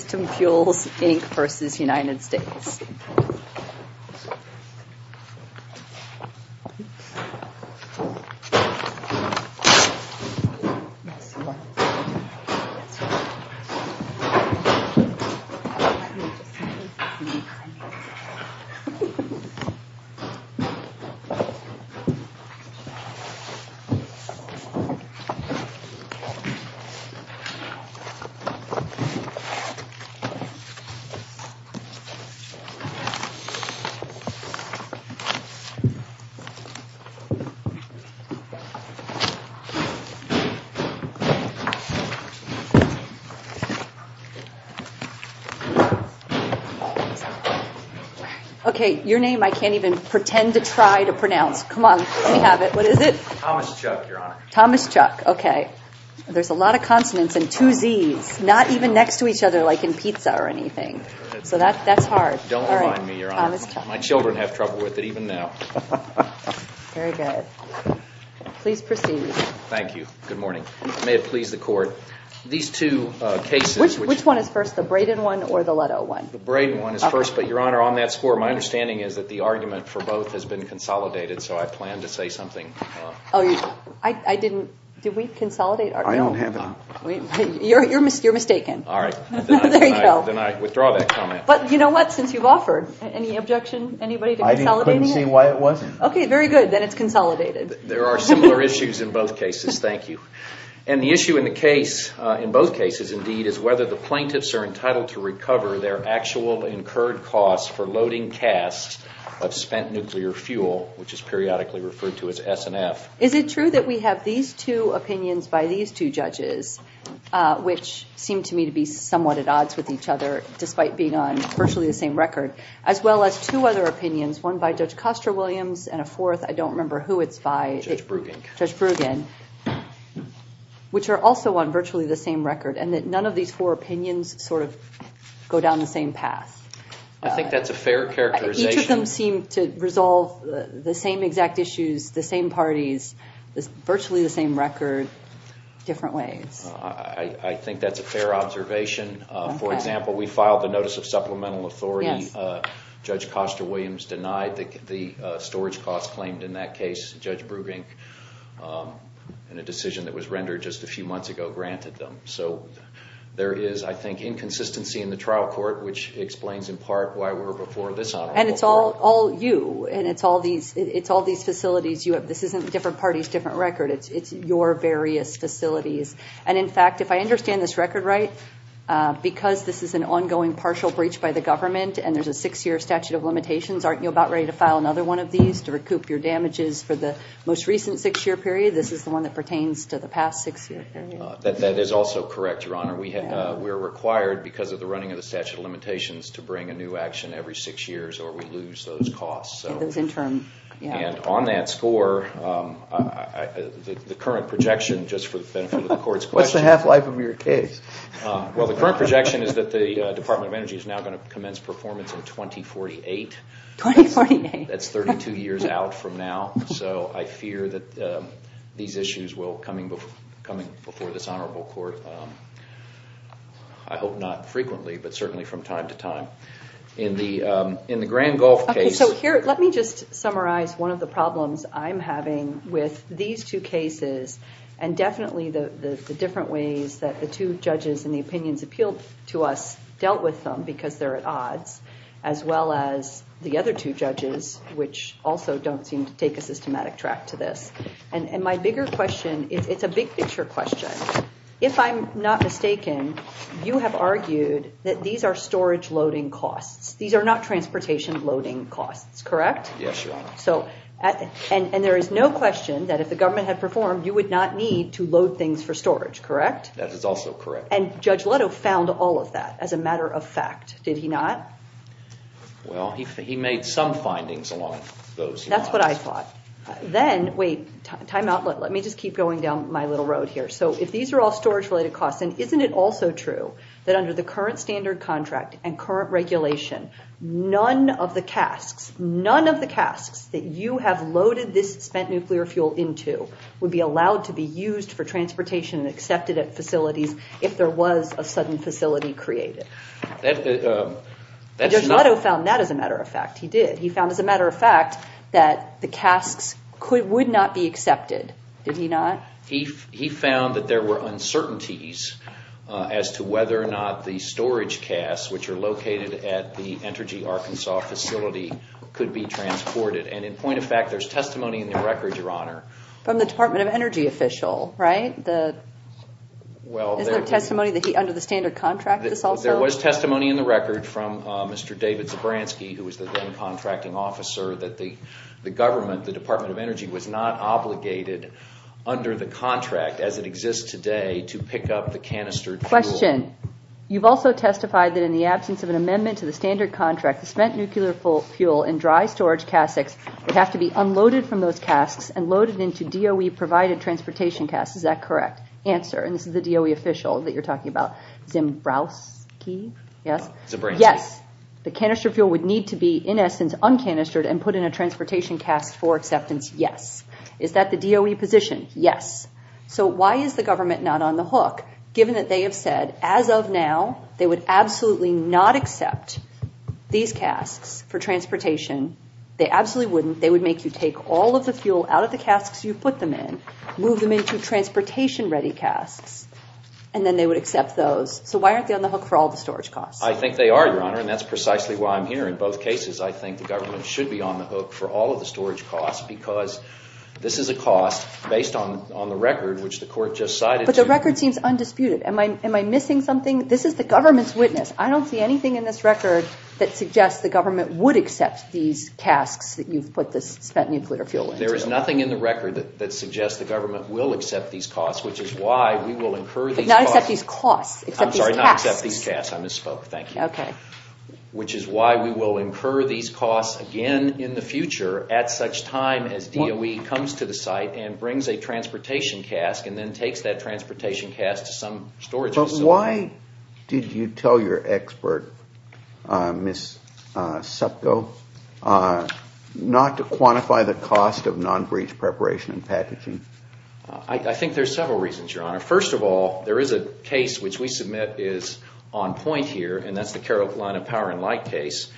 System Fuels, Inc. v. United States Okay, your name I can't even pretend to try to pronounce. Come on, let me have it. What is it? Thomas Chuck, Your Honor. Thomas Chuck, okay. There's a lot of consonants and two Zs, not even next to each other like in pizza or anything. So that's hard. Don't remind me, Your Honor. My children have trouble with it even now. Very good. Please proceed. Thank you. Good morning. May it please the Court. These two cases Which one is first, the Braden one or the Leto one? The Braden one is first, but Your Honor, on that score, my understanding is that the argument for both has been consolidated, so I planned to say something. Oh, I didn't. Did we consolidate? I don't have it. You're mistaken. All right. No, there you go. Then I withdraw that comment. But you know what, since you've offered, any objection, anybody to consolidating it? I couldn't see why it wasn't. Okay, very good. Then it's consolidated. There are similar issues in both cases. Thank you. And the issue in the case, in both cases indeed, is whether the plaintiffs are entitled to recover their actual incurred costs for loading casts of spent nuclear fuel, which is periodically referred to as S&F. Is it true that we have these two opinions by these two judges, which seem to me to be somewhat at odds with each other, despite being on virtually the same record, as well as two other opinions, one by Judge Kostra-Williams and a fourth, I don't remember who it's by. Judge Bruggen. Judge Bruggen, which are also on virtually the same record, and that none of these four opinions sort of go down the same path? I think that's a fair characterization. Each of them seem to resolve the same exact issues, the same parties, virtually the same record, different ways. I think that's a fair observation. For example, we filed the notice of supplemental authority. Judge Kostra-Williams denied the storage costs claimed in that case. Judge Bruggen, in a decision that was rendered just a few months ago, granted them. So there is, I think, inconsistency in the trial court, which explains in part why we're before this trial court. And it's all you, and it's all these facilities you have. This isn't different parties, different record. It's your various facilities. And in fact, if I understand this record right, because this is an ongoing partial breach by the government, and there's a six-year statute of limitations, aren't you about ready to file another one of these to recoup your damages for the most recent six-year period? This is the one that pertains to the past six-year period. That is also correct, Your Honor. We're required, because of the running of the statute of limitations, to bring a new action every six years, or we lose those costs. And those in turn, yeah. And on that score, the current projection, just for the benefit of the Court's question What's the half-life of your case? Well, the current projection is that the Department of Energy is now going to commence performance in 2048. 2048? That's 32 years out from now. So I fear that these issues will, coming before this honorable court, I hope not frequently, but certainly from time to time. In the Grand Gulf case So here, let me just summarize one of the problems I'm having with these two cases, and definitely the different ways that the two judges and the opinions appealed to us dealt with them, because they're at odds, as well as the other two judges, which also don't seem to take a systematic track to this. And my bigger question, it's a big picture question. If I'm not mistaken, you have argued that these are storage loading costs. These are not transportation loading costs, correct? Yes, Your Honor. And there is no question that if the government had performed, you would not need to load things for storage, correct? That is also correct. And Judge Leto found all of that as a matter of fact, did he not? Well, he made some findings along those lines. That's what I thought. Then, wait, time out, let me just keep going down my little road here. So if these are all storage related costs, and isn't it also true that under the current standard contract and current regulation, none of the casks, none of the casks that you have loaded this spent nuclear fuel into would be allowed to be used for transportation and accepted at facilities if there was a sudden facility created? Judge Leto found that as a matter of fact, he did. He found as a matter of fact that the casks would not be accepted, did he not? He found that there were uncertainties as to whether or not the storage casks, which are located at the Energy Arkansas facility, could be transported. And in point of fact, there's testimony in the record, Your Honor. From the Department of Energy official, right? Is there testimony that he, under the standard contract, this also? There was testimony in the record from Mr. David Zebranski, who was the then contracting officer, that the government, the Department of Energy, was not obligated under the contract as it exists today to pick up the canistered fuel. Question. You've also testified that in the absence of an amendment to the standard contract, the spent nuclear fuel and dry storage casks would have to be unloaded from those casks and loaded into DOE-provided transportation casks. Is that correct? Answer. And this is the DOE official that you're talking about. Zebrowski? Yes? Yes. The canister fuel would need to be, in essence, un-canistered and put in a transportation cask for acceptance. Yes. Is that the DOE position? Yes. So why is the government not on the hook, given that they have said, as of now, they would absolutely not accept these casks for transportation. They absolutely wouldn't. They would make you take all of the fuel out of the casks you put them in, move them into transportation-ready casks, and then they would accept those. So why aren't they on the hook for all the storage costs? I think they are, Your Honor, and that's precisely why I'm here. In both cases, I think the government should be on the hook for all of the storage costs because this is a cost based on the record, which the court just cited. But the record seems undisputed. Am I missing something? This is the government's witness. I don't see anything in this record that suggests the government would accept these There is nothing in the record that suggests the government will accept these costs, which is why we will incur these costs. But not accept these costs. Accept these casks. I'm sorry, not accept these casks. I misspoke. Thank you. Okay. Which is why we will incur these costs again in the future at such time as DOE comes to the site and brings a transportation cask and then takes that transportation cask to some storage facility. So why did you tell your expert, Ms. Sutko, not to quantify the cost of non-breach preparation and packaging? I think there are several reasons, Your Honor. First of all, there is a case which we submit is on point here, and that's the Carolina Power and Light case.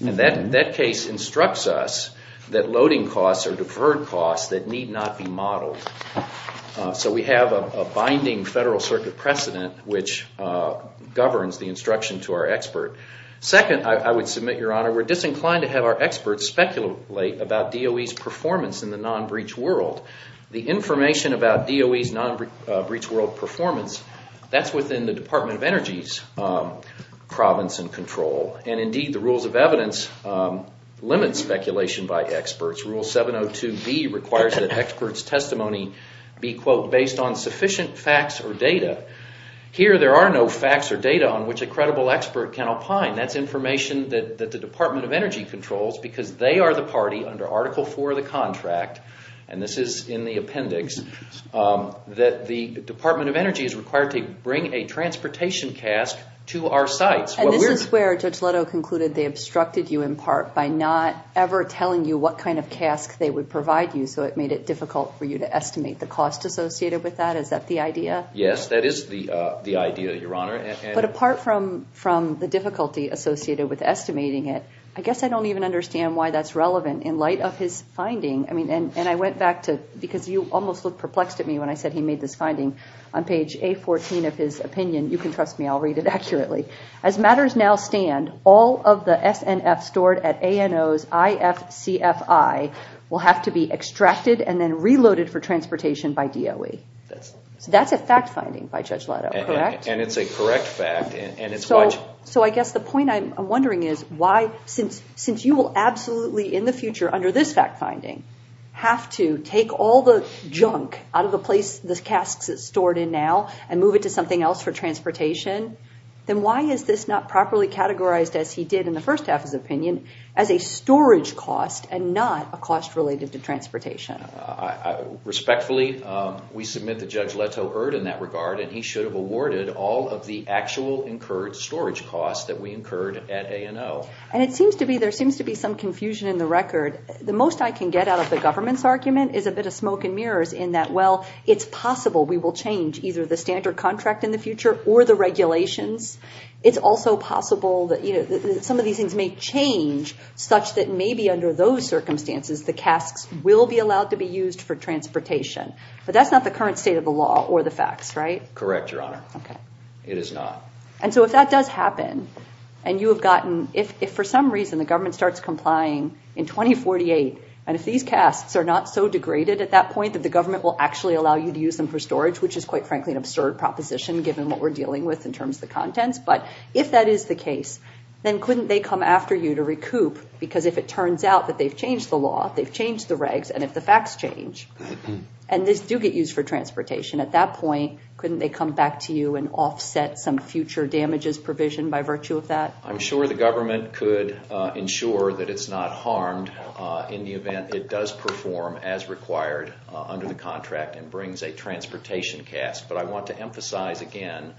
And that case instructs us that loading costs are deferred costs that need not be modeled. So we have a binding Federal Circuit precedent which governs the instruction to our expert. Second, I would submit, Your Honor, we're disinclined to have our experts speculate about DOE's performance in the non-breach world. The information about DOE's non-breach world performance, that's within the Department of Energy's province and control. And indeed, the rules of evidence limit speculation by experts. Rule 702B requires that experts' testimony be, quote, based on sufficient facts or data. Here, there are no facts or data on which a credible expert can opine. That's information that the Department of Energy controls because they are the party under Article IV of the contract, and this is in the appendix, that the Department of Energy is required to bring a transportation cask to our sites. And this is where Judge Leto concluded they obstructed you in part by not ever telling you what kind of cask they would provide you, so it made it difficult for you to estimate the cost associated with that. Is that the idea? Yes, that is the idea, Your Honor. But apart from the difficulty associated with estimating it, I guess I don't even understand why that's relevant in light of his finding. And I went back to, because you almost looked perplexed at me when I said he made this finding. On page A14 of his opinion, you can trust me, I'll read it accurately. As matters now stand, all of the SNF stored at ANO's IFCFI will have to be extracted and then reloaded for transportation by DOE. That's a fact finding by Judge Leto, correct? And it's a correct fact. So I guess the point I'm wondering is why, since you will absolutely in the future, under this fact finding, have to take all the junk out of the casks it's stored in now and move it to something else for transportation, then why is this not properly categorized, as he did in the first half of his opinion, as a storage cost and not a cost related to transportation? Respectfully, we submit that Judge Leto erred in that regard, and he should have awarded all of the actual incurred storage costs that we incurred at ANO. And it seems to be, there seems to be some confusion in the record. The most I can get out of the government's argument is a bit of smoke and mirrors in that, well, it's possible we will change either the standard contract in the future or the regulations. It's also possible that some of these things may change such that maybe under those circumstances the casks will be allowed to be used for transportation. But that's not the current state of the law or the facts, right? Correct, Your Honor. Okay. It is not. And so if that does happen, and you have gotten, if for some reason the government starts complying in 2048, and if these casks are not so degraded at that point that the government will actually allow you to use them for storage, which is quite frankly an absurd proposition given what we're dealing with in terms of the contents. But if that is the case, then couldn't they come after you to recoup? Because if it turns out that they've changed the law, they've changed the regs, and if the facts change, and these do get used for transportation at that point, couldn't they come back to you and offset some future damages provision by virtue of that? I'm sure the government could ensure that it's not harmed in the event it does perform as required under the contract and brings a transportation cask. But I want to emphasize again...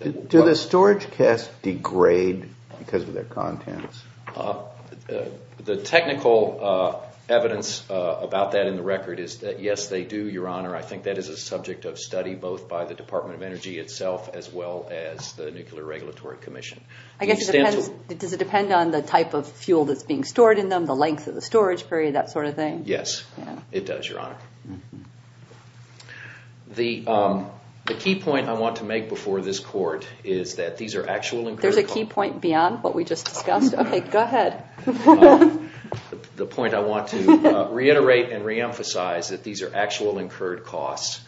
Do the storage casks degrade because of their contents? The technical evidence about that in the record is that yes, they do, Your Honor. I think that is a subject of study both by the Department of Energy itself as well as the Nuclear Regulatory Commission. Does it depend on the type of fuel that's being stored in them, the length of the storage period, that sort of thing? Yes, it does, Your Honor. The key point I want to make before this court is that these are actual incurred costs... There's a key point beyond what we just discussed? Okay, go ahead. The point I want to reiterate and reemphasize is that these are actual incurred costs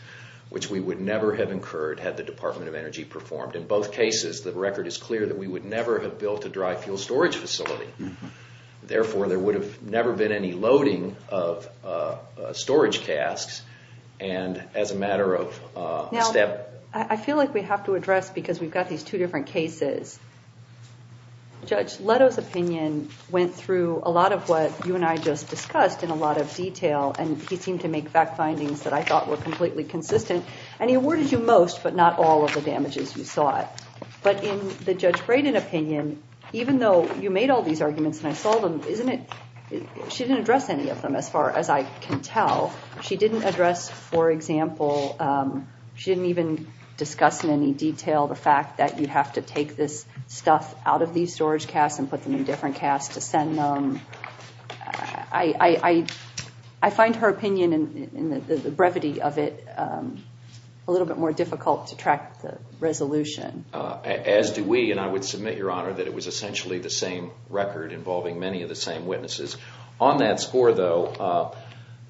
which we would never have incurred had the Department of Energy performed. In both cases, the record is clear that we would never have built a dry fuel storage facility. Therefore, there would have never been any loading of storage casks and as a matter of step... Now, I feel like we have to address because we've got these two different cases. Judge Leto's opinion went through a lot of what you and I just discussed in a lot of detail and he seemed to make fact findings that I thought were completely consistent and he awarded you most but not all of the damages you sought. In the Judge Braden opinion, even though you made all these arguments and I saw them, she didn't address any of them as far as I can tell. She didn't address, for example, she didn't even discuss in any detail the fact that you have to take this stuff out of these storage casks and put them in different casks to send them. I find her opinion and the brevity of it a little bit more difficult to track the resolution. As do we and I would submit, Your Honor, that it was essentially the same record involving many of the same witnesses. On that score, though,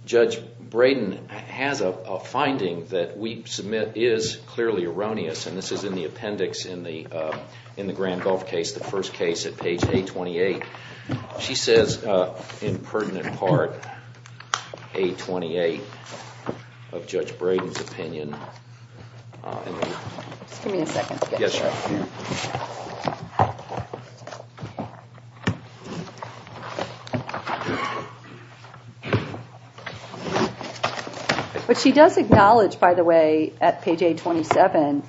Judge Braden has a finding that we submit is clearly erroneous and this is in the appendix in the Grand Gulf case, the first case at page 828. She says in pertinent part, page 828 of Judge Braden's opinion. Just give me a second. Yes, Your Honor. But she does acknowledge, by the way, at page 827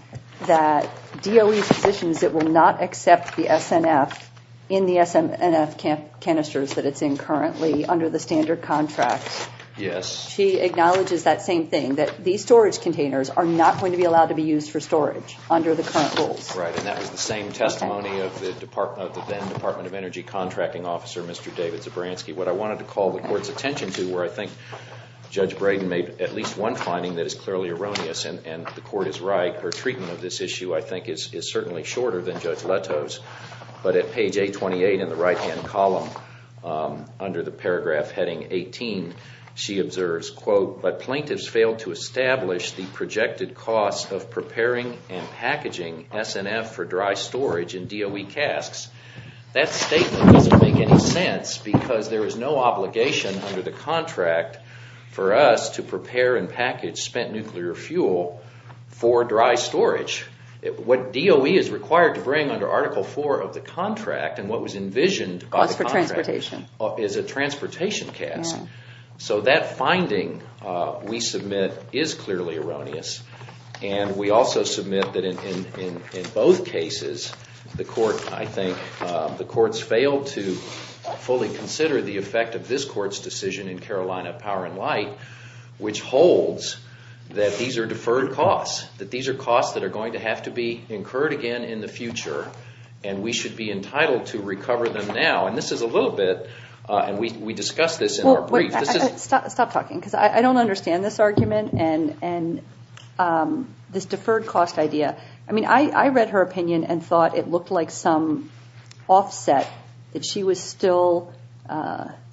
that DOE positions that will not accept the SNF in the SNF canisters that it's in currently under the standard contract. Yes. She acknowledges that same thing, that these storage containers are not going to be allowed to be used for storage under the current rules. Right, and that was the same testimony of the then Department of Energy contracting officer, Mr. David Zebranski. What I wanted to call the Court's attention to where I think Judge Braden made at least one finding that is clearly erroneous and the Court is right. But at page 828 in the right-hand column under the paragraph heading 18, she observes, That statement doesn't make any sense because there is no obligation under the contract for us to prepare and package spent nuclear fuel for dry storage. What DOE is required to bring under Article 4 of the contract and what was envisioned by the contract is a transportation cast. So that finding we submit is clearly erroneous. And we also submit that in both cases the Court, I think, the Court's failed to fully consider the effect of this Court's decision in Carolina Power & Light, which holds that these are deferred costs. That these are costs that are going to have to be incurred again in the future and we should be entitled to recover them now. And this is a little bit, and we discussed this in our brief. Stop talking because I don't understand this argument and this deferred cost idea. I mean, I read her opinion and thought it looked like some offset, that she was still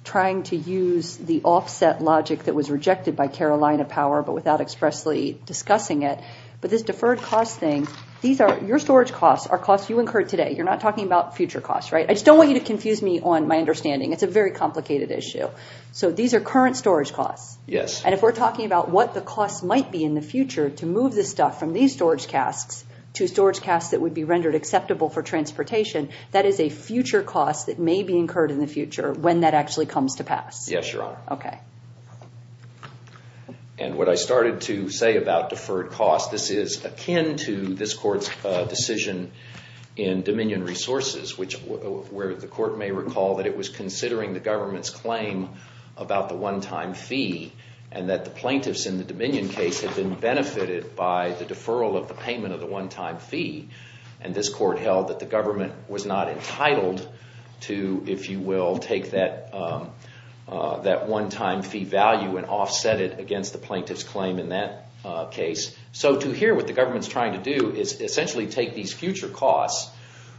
trying to use the offset logic that was rejected by Carolina Power but without expressly discussing it. But this deferred cost thing, these are, your storage costs are costs you incurred today. You're not talking about future costs, right? I just don't want you to confuse me on my understanding. It's a very complicated issue. So these are current storage costs. Yes. And if we're talking about what the costs might be in the future to move this stuff from these storage casts to storage casts that would be rendered acceptable for transportation, that is a future cost that may be incurred in the future when that actually comes to pass. Yes, Your Honor. Okay. And what I started to say about deferred costs, this is akin to this court's decision in Dominion Resources where the court may recall that it was considering the government's claim about the one-time fee and that the plaintiffs in the Dominion case had been benefited by the deferral of the payment of the one-time fee. And this court held that the government was not entitled to, if you will, take that one-time fee value and offset it against the plaintiff's claim in that case. So to hear what the government's trying to do is essentially take these future costs,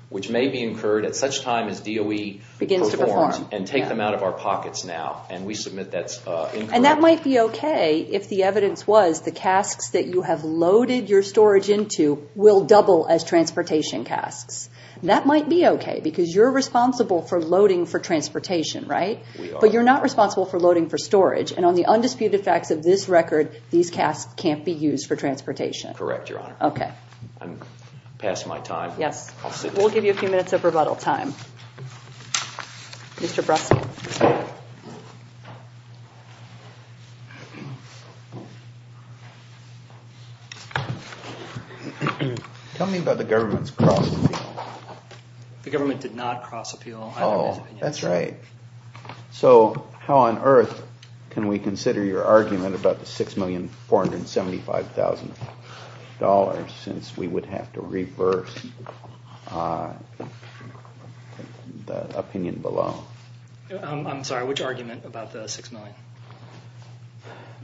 which may be incurred at such time as DOE performs, and take them out of our pockets now. And we submit that's incorrect. And that might be okay if the evidence was the casts that you have loaded your storage into will double as transportation casts. That might be okay because you're responsible for loading for transportation, right? We are. You're not responsible for loading for storage. And on the undisputed facts of this record, these casts can't be used for transportation. Correct, Your Honor. Okay. I'm past my time. Yes. We'll give you a few minutes of rebuttal time. Mr. Brussell. Tell me about the government's cross-appeal. The government did not cross-appeal. Oh, that's right. So how on earth can we consider your argument about the $6,475,000 since we would have to reverse the opinion below? I'm sorry. Which argument about the $6 million?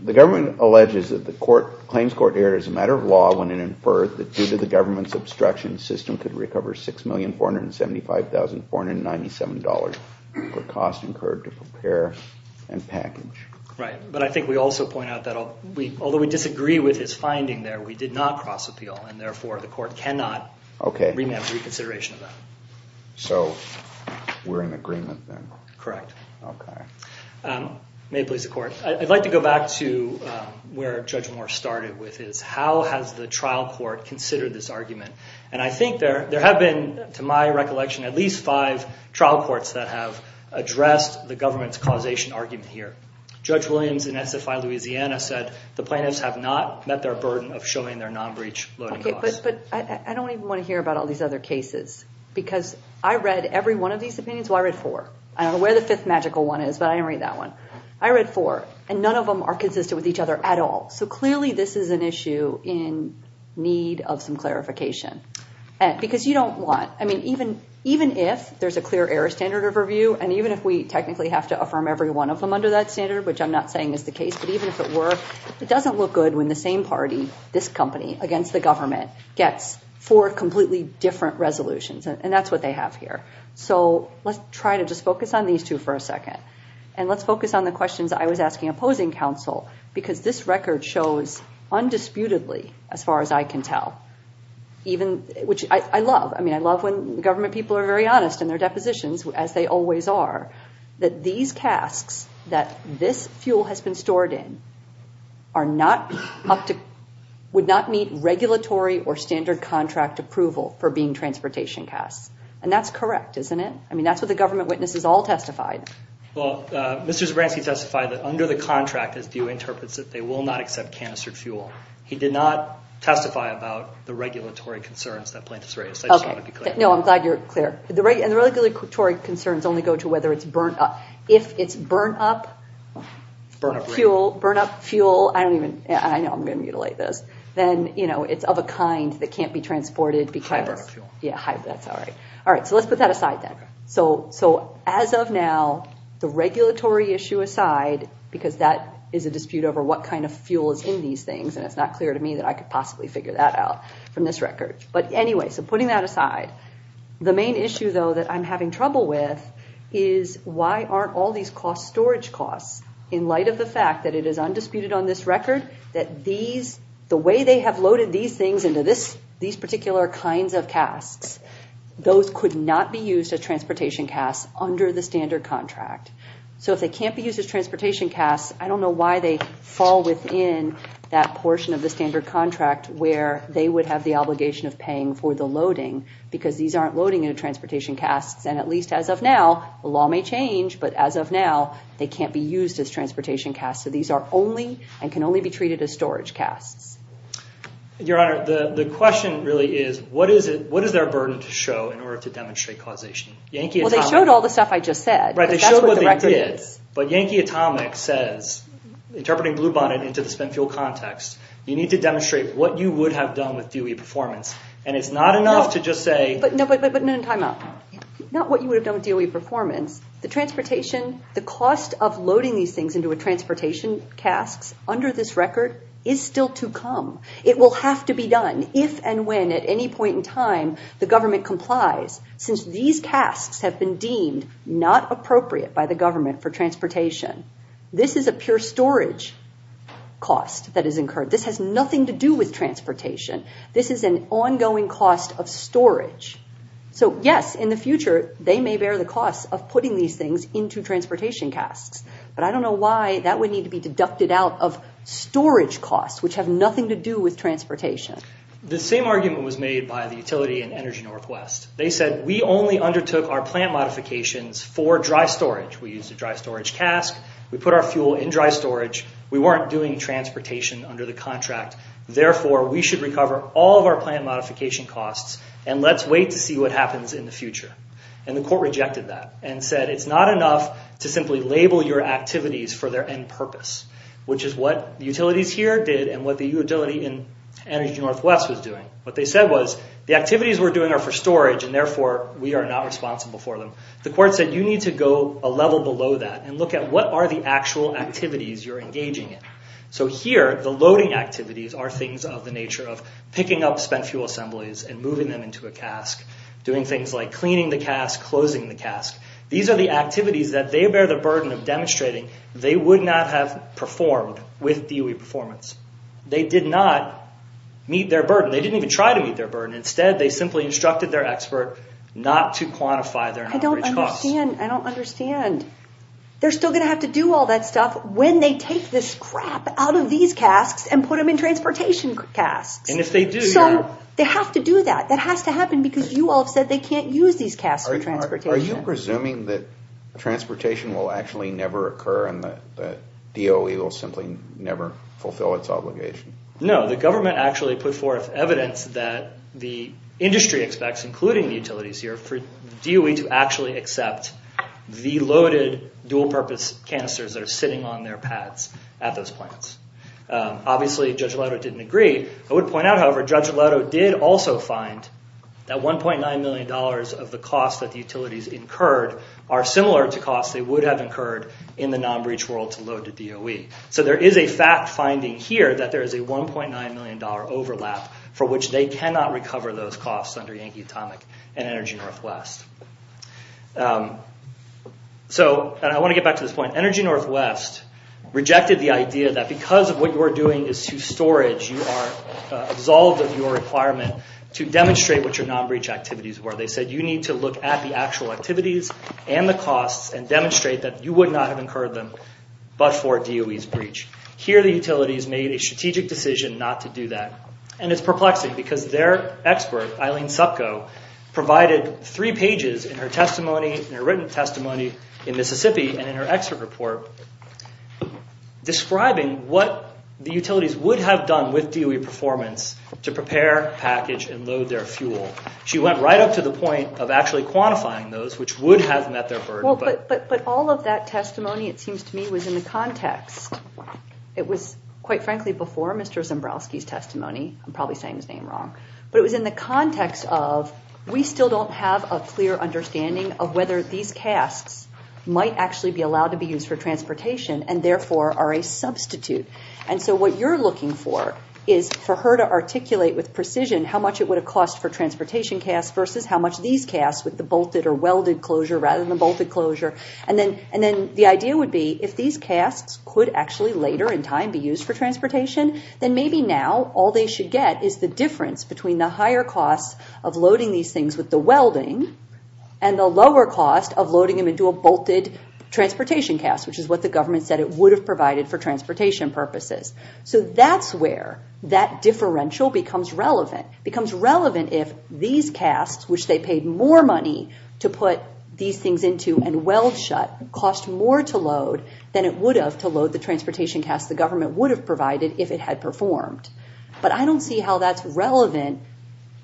The government alleges that the claims court erred as a matter of law when it inferred that due to the government's obstruction, the system could recover $6,475,497 per cost incurred to prepare and package. Right. But I think we also point out that although we disagree with his finding there, we did not cross-appeal, and therefore the court cannot remand reconsideration of that. Okay. So we're in agreement then? Correct. Okay. May it please the Court. I'd like to go back to where Judge Moore started with his how has the trial court considered this argument? And I think there have been, to my recollection, at least five trial courts that have addressed the government's causation argument here. Judge Williams in SFI Louisiana said the plaintiffs have not met their burden of showing their non-breach loading costs. Okay, but I don't even want to hear about all these other cases because I read every one of these opinions. Well, I read four. I don't know where the fifth magical one is, but I didn't read that one. I read four, and none of them are consistent with each other at all. So clearly this is an issue in need of some clarification because you don't want, I mean, even if there's a clear error standard of review and even if we technically have to affirm every one of them under that standard, which I'm not saying is the case, but even if it were, it doesn't look good when the same party, this company, against the government gets four completely different resolutions, and that's what they have here. So let's try to just focus on these two for a second, and let's focus on the questions I was asking opposing counsel because this record shows undisputedly, as far as I can tell, which I love, I mean, I love when government people are very honest in their depositions, as they always are, that these casks that this fuel has been stored in would not meet regulatory or standard contract approval for being transportation casks. And that's correct, isn't it? I mean, that's what the government witnesses all testified. Well, Mr. Zebranski testified that under the contract, his view interprets that they will not accept canistered fuel. He did not testify about the regulatory concerns that plaintiffs raised. I just want to be clear. No, I'm glad you're clear. And the regulatory concerns only go to whether it's burnt up. If it's burnt up fuel, I know I'm going to mutilate this, then it's of a kind that can't be transported. High burn up fuel. Yeah, high, that's all right. All right, so let's put that aside then. As of now, the regulatory issue aside, because that is a dispute over what kind of fuel is in these things, and it's not clear to me that I could possibly figure that out from this record. But anyway, so putting that aside, the main issue, though, that I'm having trouble with is why aren't all these cost storage costs, in light of the fact that it is undisputed on this record that the way they have loaded these things into these particular kinds of casks, those could not be used as transportation casks under the standard contract. So if they can't be used as transportation casks, I don't know why they fall within that portion of the standard contract where they would have the obligation of paying for the loading, because these aren't loading into transportation casks. And at least as of now, the law may change, but as of now, they can't be used as transportation casks. So these are only and can only be treated as storage casks. Your Honor, the question really is, what is there a burden to show in order to demonstrate causation? Well, they showed all the stuff I just said, because that's what the record is. But Yankee Atomic says, interpreting Bluebonnet into the spent fuel context, you need to demonstrate what you would have done with DOE performance, and it's not enough to just say... But no, time out. Not what you would have done with DOE performance. The transportation, the cost of loading these things into a transportation cask under this record is still to come. It will have to be done if and when at any point in time the government complies, since these casks have been deemed not appropriate by the government for transportation. This is a pure storage cost that is incurred. This has nothing to do with transportation. This is an ongoing cost of storage. So, yes, in the future, they may bear the cost of putting these things into transportation casks. But I don't know why that would need to be deducted out of storage costs, which have nothing to do with transportation. The same argument was made by the utility in Energy Northwest. They said, we only undertook our plant modifications for dry storage. We used a dry storage cask. We put our fuel in dry storage. We weren't doing transportation under the contract. Therefore, we should recover all of our plant modification costs, and let's wait to see what happens in the future. And the court rejected that and said, it's not enough to simply label your activities for their end purpose, which is what utilities here did and what the utility in Energy Northwest was doing. What they said was, the activities we're doing are for storage, and therefore we are not responsible for them. The court said, you need to go a level below that and look at what are the actual activities you're engaging in. So here, the loading activities are things of the nature of picking up spent fuel assemblies and moving them into a cask, doing things like cleaning the cask, closing the cask. These are the activities that they bear the burden of demonstrating they would not have performed with DOE performance. They did not meet their burden. They didn't even try to meet their burden. Instead, they simply instructed their expert not to quantify their non-breach costs. I don't understand. They're still going to have to do all that stuff when they take this crap out of these casks and put them in transportation casks. And if they do... So, they have to do that. That has to happen because you all have said that they can't use these casks for transportation. Are you presuming that transportation will actually never occur and that DOE will simply never fulfill its obligation? No. The government actually put forth evidence that the industry expects, including the utilities here, for DOE to actually accept the loaded dual-purpose canisters that are sitting on their pads at those plants. Obviously, Judge Laudo didn't agree. I would point out, however, Judge Laudo did also find that $1.9 million of the costs that the utilities incurred are similar to costs they would have incurred in the non-breach world to load to DOE. So, there is a fact finding here that there is a $1.9 million overlap for which they cannot recover those costs under Yankee Atomic and Energy Northwest. And I want to get back to this point. Energy Northwest rejected the idea that because of what you are doing is to storage, you are absolved of your requirement to demonstrate what your non-breach activities were. They said you need to look at the actual activities and the costs and demonstrate that you would not have incurred them but for DOE's breach. Here, the utilities made a strategic decision not to do that. And it's perplexing because their expert, Eileen Supko, provided three pages in her testimony, in her written testimony in Mississippi and in her expert report, describing what the utilities would have done with DOE performance to prepare, package, and load their fuel. She went right up to the point of actually quantifying those which would have met their burden. But all of that testimony, it seems to me, was in the context. It was, quite frankly, before Mr. Zembrowski's testimony. I'm probably saying his name wrong. But it was in the context of, we still don't have a clear understanding of whether these casts might actually be allowed to be used for transportation and therefore are a substitute. And so what you're looking for is for her to articulate with precision how much it would have cost for transportation casts versus how much these casts with the bolted or welded closure rather than bolted closure. And then the idea would be if these casts could actually later in time be used for transportation, then maybe now all they should get is the difference between the higher costs of loading these things with the welding and the lower cost of loading them into a bolted transportation cast, which is what the government said it would have provided for transportation purposes. So that's where that differential becomes relevant. It becomes relevant if these casts, which they paid more money to put these things into and weld shut, cost more to load than it would have to load the transportation cast the government would have provided if it had performed. But I don't see how that's relevant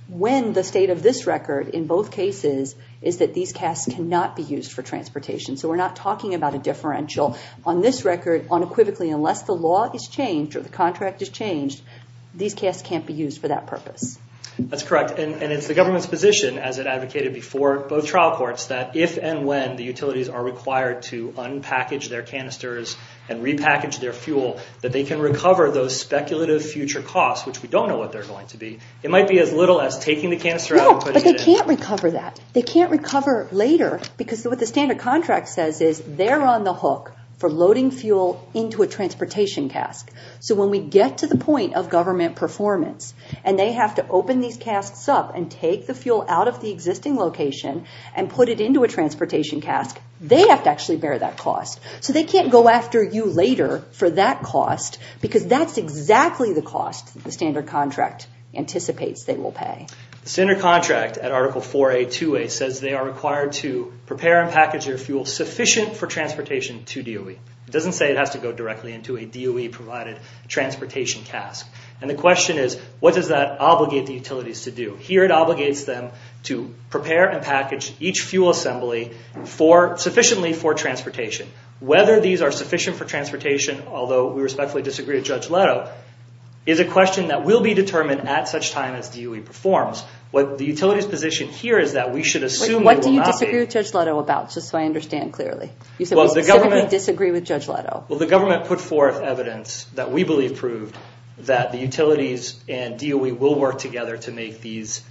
when the state of this record in both cases is that these casts cannot be used for transportation. So we're not talking about a differential. On this record, unequivocally, unless the law is changed or the contract is changed, these casts can't be used for that purpose. That's correct, and it's the government's position, as it advocated before both trial courts, that if and when the utilities are required to unpackage their canisters and repackage their fuel, that they can recover those speculative future costs, which we don't know what they're going to be. It might be as little as taking the canister out and putting it in. No, but they can't recover that. They can't recover later, because what the standard contract says is they're on the hook for loading fuel into a transportation cast. So when we get to the point of government performance and they have to open these casts up and take the fuel out of the existing location and put it into a transportation cast, they have to actually bear that cost. So they can't go after you later for that cost because that's exactly the cost the standard contract anticipates they will pay. The standard contract at Article 4A-2A says they are required to prepare and package their fuel sufficient for transportation to DOE. It doesn't say it has to go directly into a DOE-provided transportation cast. And the question is, what does that obligate the utilities to do? Here it obligates them to prepare and package each fuel assembly sufficiently for transportation. Whether these are sufficient for transportation, although we respectfully disagree with Judge Leto, is a question that will be determined at such time as DOE performs. The utility's position here is that we should assume... What do you disagree with Judge Leto about, just so I understand clearly? You said we specifically disagree with Judge Leto. Well, the government put forth evidence that we believe proved that the utilities and DOE will work together to make these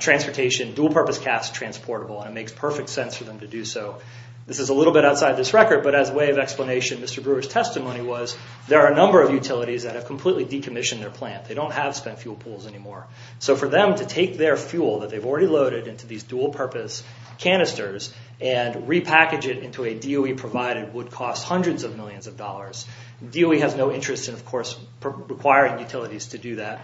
transportation dual-purpose casts transportable, and it makes perfect sense for them to do so. This is a little bit outside this record, but as a way of explanation, Mr. Brewer's testimony was there are a number of utilities that have completely decommissioned their plant. They don't have spent fuel pools anymore. So for them to take their fuel that they've already loaded into these dual-purpose canisters and repackage it into a DOE-provided would cost hundreds of millions of dollars. DOE has no interest in, of course, requiring utilities to do that.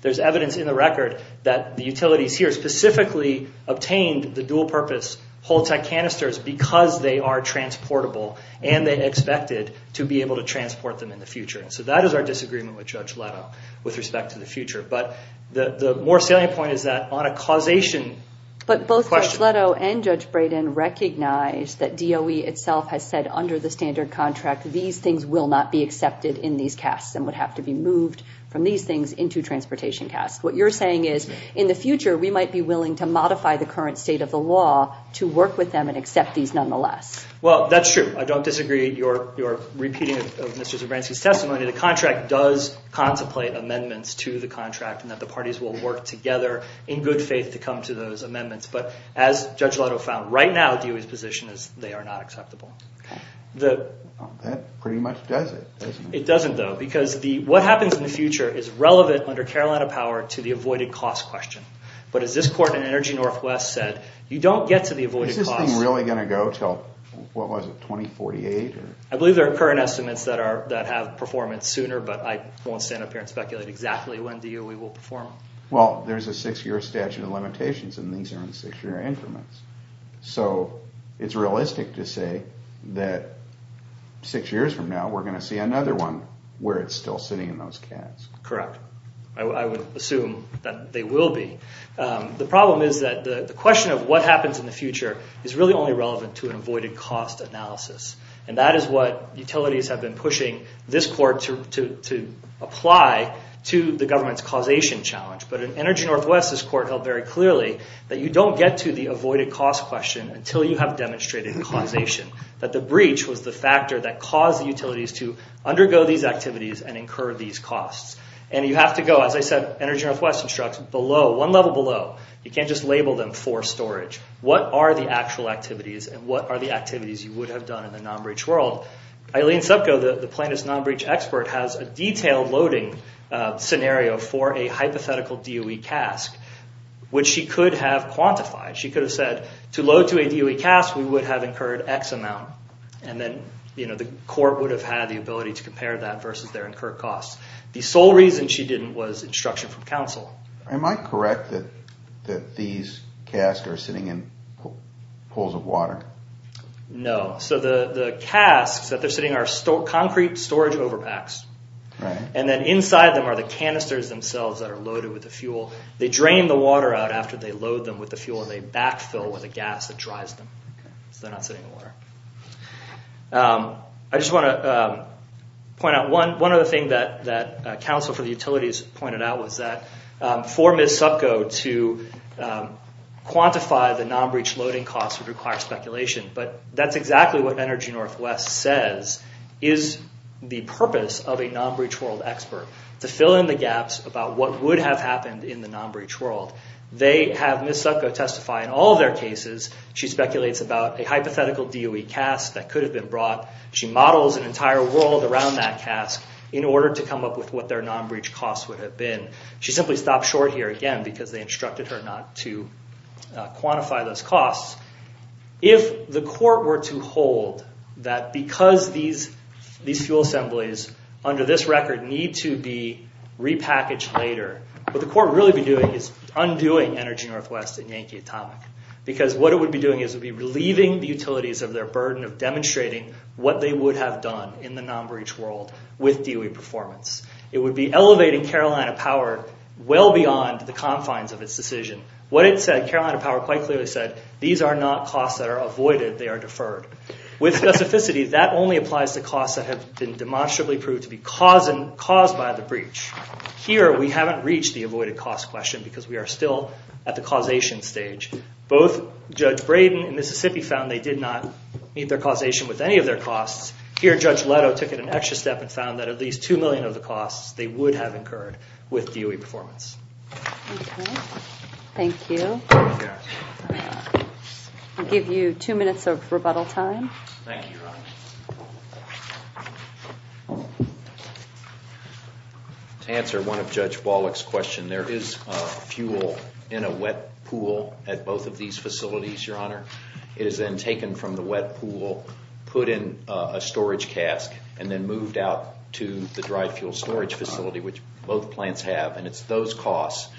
There's evidence in the record that the utilities here specifically obtained the dual-purpose Holtec canisters because they are transportable, and they expected to be able to transport them in the future. So that is our disagreement with Judge Leto with respect to the future. But the more salient point is that on a causation question... But both Judge Leto and Judge Brayden recognize that DOE itself has said under the standard contract these things will not be accepted in these casts and would have to be moved from these things into transportation casts. What you're saying is in the future we might be willing to modify the current state of the law to work with them and accept these nonetheless. Well, that's true. I don't disagree with your repeating of Mr. Zebranski's testimony. The contract does contemplate amendments to the contract and that the parties will work together in good faith to come to those amendments. But as Judge Leto found right now, DOE's position is they are not acceptable. That pretty much does it, doesn't it? It doesn't, though, because what happens in the future is relevant under Carolina power to the avoided cost question. But as this court in Energy Northwest said, you don't get to the avoided cost... Is this thing really going to go until, what was it, 2048? I believe there are current estimates that have performance sooner, but I won't stand up here and speculate exactly when DOE will perform. Well, there's a six-year statute of limitations and these are in six-year increments. So it's realistic to say that six years from now we're going to see another one where it's still sitting in those casts. Correct. I would assume that they will be. The problem is that the question of what happens in the future is really only relevant to an avoided cost analysis. And that is what utilities have been pushing this court to apply to the government's causation challenge. But in Energy Northwest, this court held very clearly that you don't get to the avoided cost question until you have demonstrated causation. That the breach was the factor that caused the utilities to undergo these activities and incur these costs. And you have to go, as I said, Energy Northwest instructs, one level below. You can't just label them for storage. What are the actual activities and what are the activities you would have done in the non-breach world? Eileen Subko, the plaintiff's non-breach expert, has a detailed loading scenario for a hypothetical DOE cast which she could have quantified. She could have said, to load to a DOE cast, we would have incurred X amount. And then the court would have had the ability to compare that versus their incurred costs. The sole reason she didn't was instruction from counsel. Am I correct that these casts are sitting in pools of water? No. So the casks that they're sitting in are concrete storage overpacks. And then inside them are the canisters themselves that are loaded with the fuel. They drain the water out after they load them with the fuel and they backfill with a gas that dries them. So they're not sitting in water. I just want to One other thing that counsel for the utilities pointed out was that for Ms. Subko to quantify the non-breach loading costs would require speculation. But that's exactly what Energy Northwest says is the purpose of a non-breach world expert to fill in the gaps about what would have happened in the non-breach world. They have Ms. Subko testify in all of their cases. She speculates about a hypothetical DOE cast that could have been brought. She models an entire world around that cask in order to come up with what their non-breach costs would have been. She simply stopped short here again because they instructed her not to quantify those costs. If the court were to hold that because these fuel assemblies under this record need to be repackaged later, what the court would really be doing is undoing Energy Northwest and Yankee Atomic. Because what it would be doing is it would be relieving the utilities of their burden of demonstrating what they would have done in the non-breach world with DOE performance. It would be elevating Carolina Power well beyond the confines of its decision. What it said, Carolina Power quite clearly said, these are not costs that are avoided, they are deferred. With specificity, that only applies to costs that have been demonstrably proved to be caused by the breach. Here, we haven't reached the avoided cost question because we are still at the causation stage. Both Judge Braden and Mississippi found they did not meet their causation with any of their costs. Here, Judge Leto took it an extra step and found that at least two million of the costs they would have incurred with DOE performance. Thank you. I'll give you two minutes of rebuttal time. Thank you, Your Honor. To answer one of Judge Wallach's questions, there is fuel in a wet pool at both of these facilities, Your Honor. It is then taken from the wet pool, put in a storage cask, and then moved out to the dry fuel storage facility, which both plants have, and it's those costs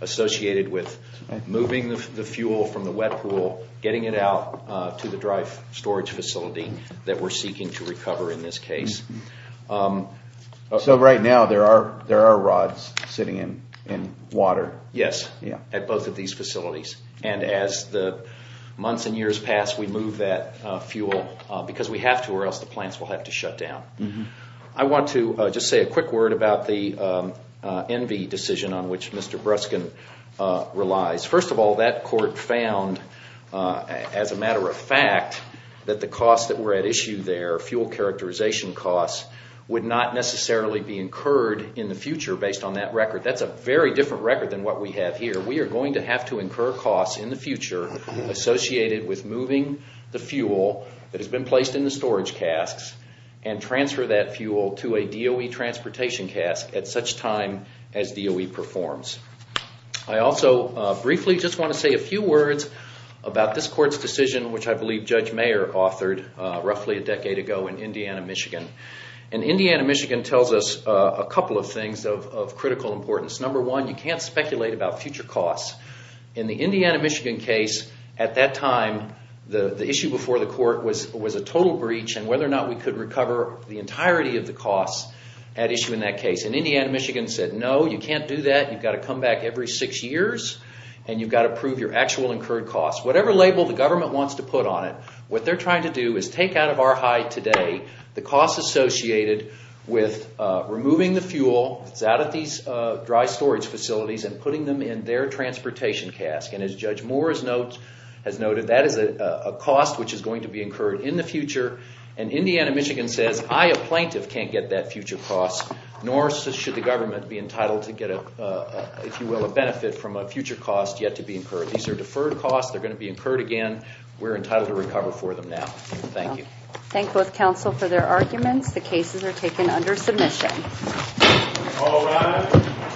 associated with moving the fuel from the wet pool, getting it out to the dry storage facility that we're seeking to recover in this case. So right now, there are rods sitting in water. Yes. At both of these facilities. And as the months and years pass, we move that fuel because we have to or else the plants will have to shut down. I want to just say a quick word about the Envy decision on which Mr. Bruskin relies. First of all, that court found as a matter of fact that the costs that were at issue there, fuel characterization costs, would not necessarily be incurred in the future based on that record. That's a very different record than what we have here. We are going to have to incur costs in the future associated with moving the fuel that has been placed in the storage casks and transfer that fuel to a DOE transportation cask at such time as DOE performs. I also briefly just want to say a few words about this court's decision, which I believe Judge Mayer authored roughly a decade ago in Indiana, Michigan. Indiana, Michigan tells us a couple of things of critical importance. Number one, you can't speculate about future costs. In the Indiana, Michigan case, at that time the issue before the court was a total breach and whether or not we could recover the entirety of the costs at issue in that case. Indiana, Michigan said, no, you can't do that. You've got to come back every six years and you've got to prove your actual incurred costs. Whatever label the government wants to put on it, what they're trying to do is take out of our high today the costs associated with removing the fuel that's out of these dry storage facilities and putting them in their transportation cask. As Judge Moore has noted, that is a cost which is going to be incurred in the future. Indiana, Michigan says, I, a plaintiff, can't get that future cost, nor should the government be entitled to get a benefit from a future cost yet to be incurred. These are deferred costs. They're going to be incurred again. We're entitled to recover for them now. Thank you. Thank both counsel for their arguments. The cases are taken under submission. All rise.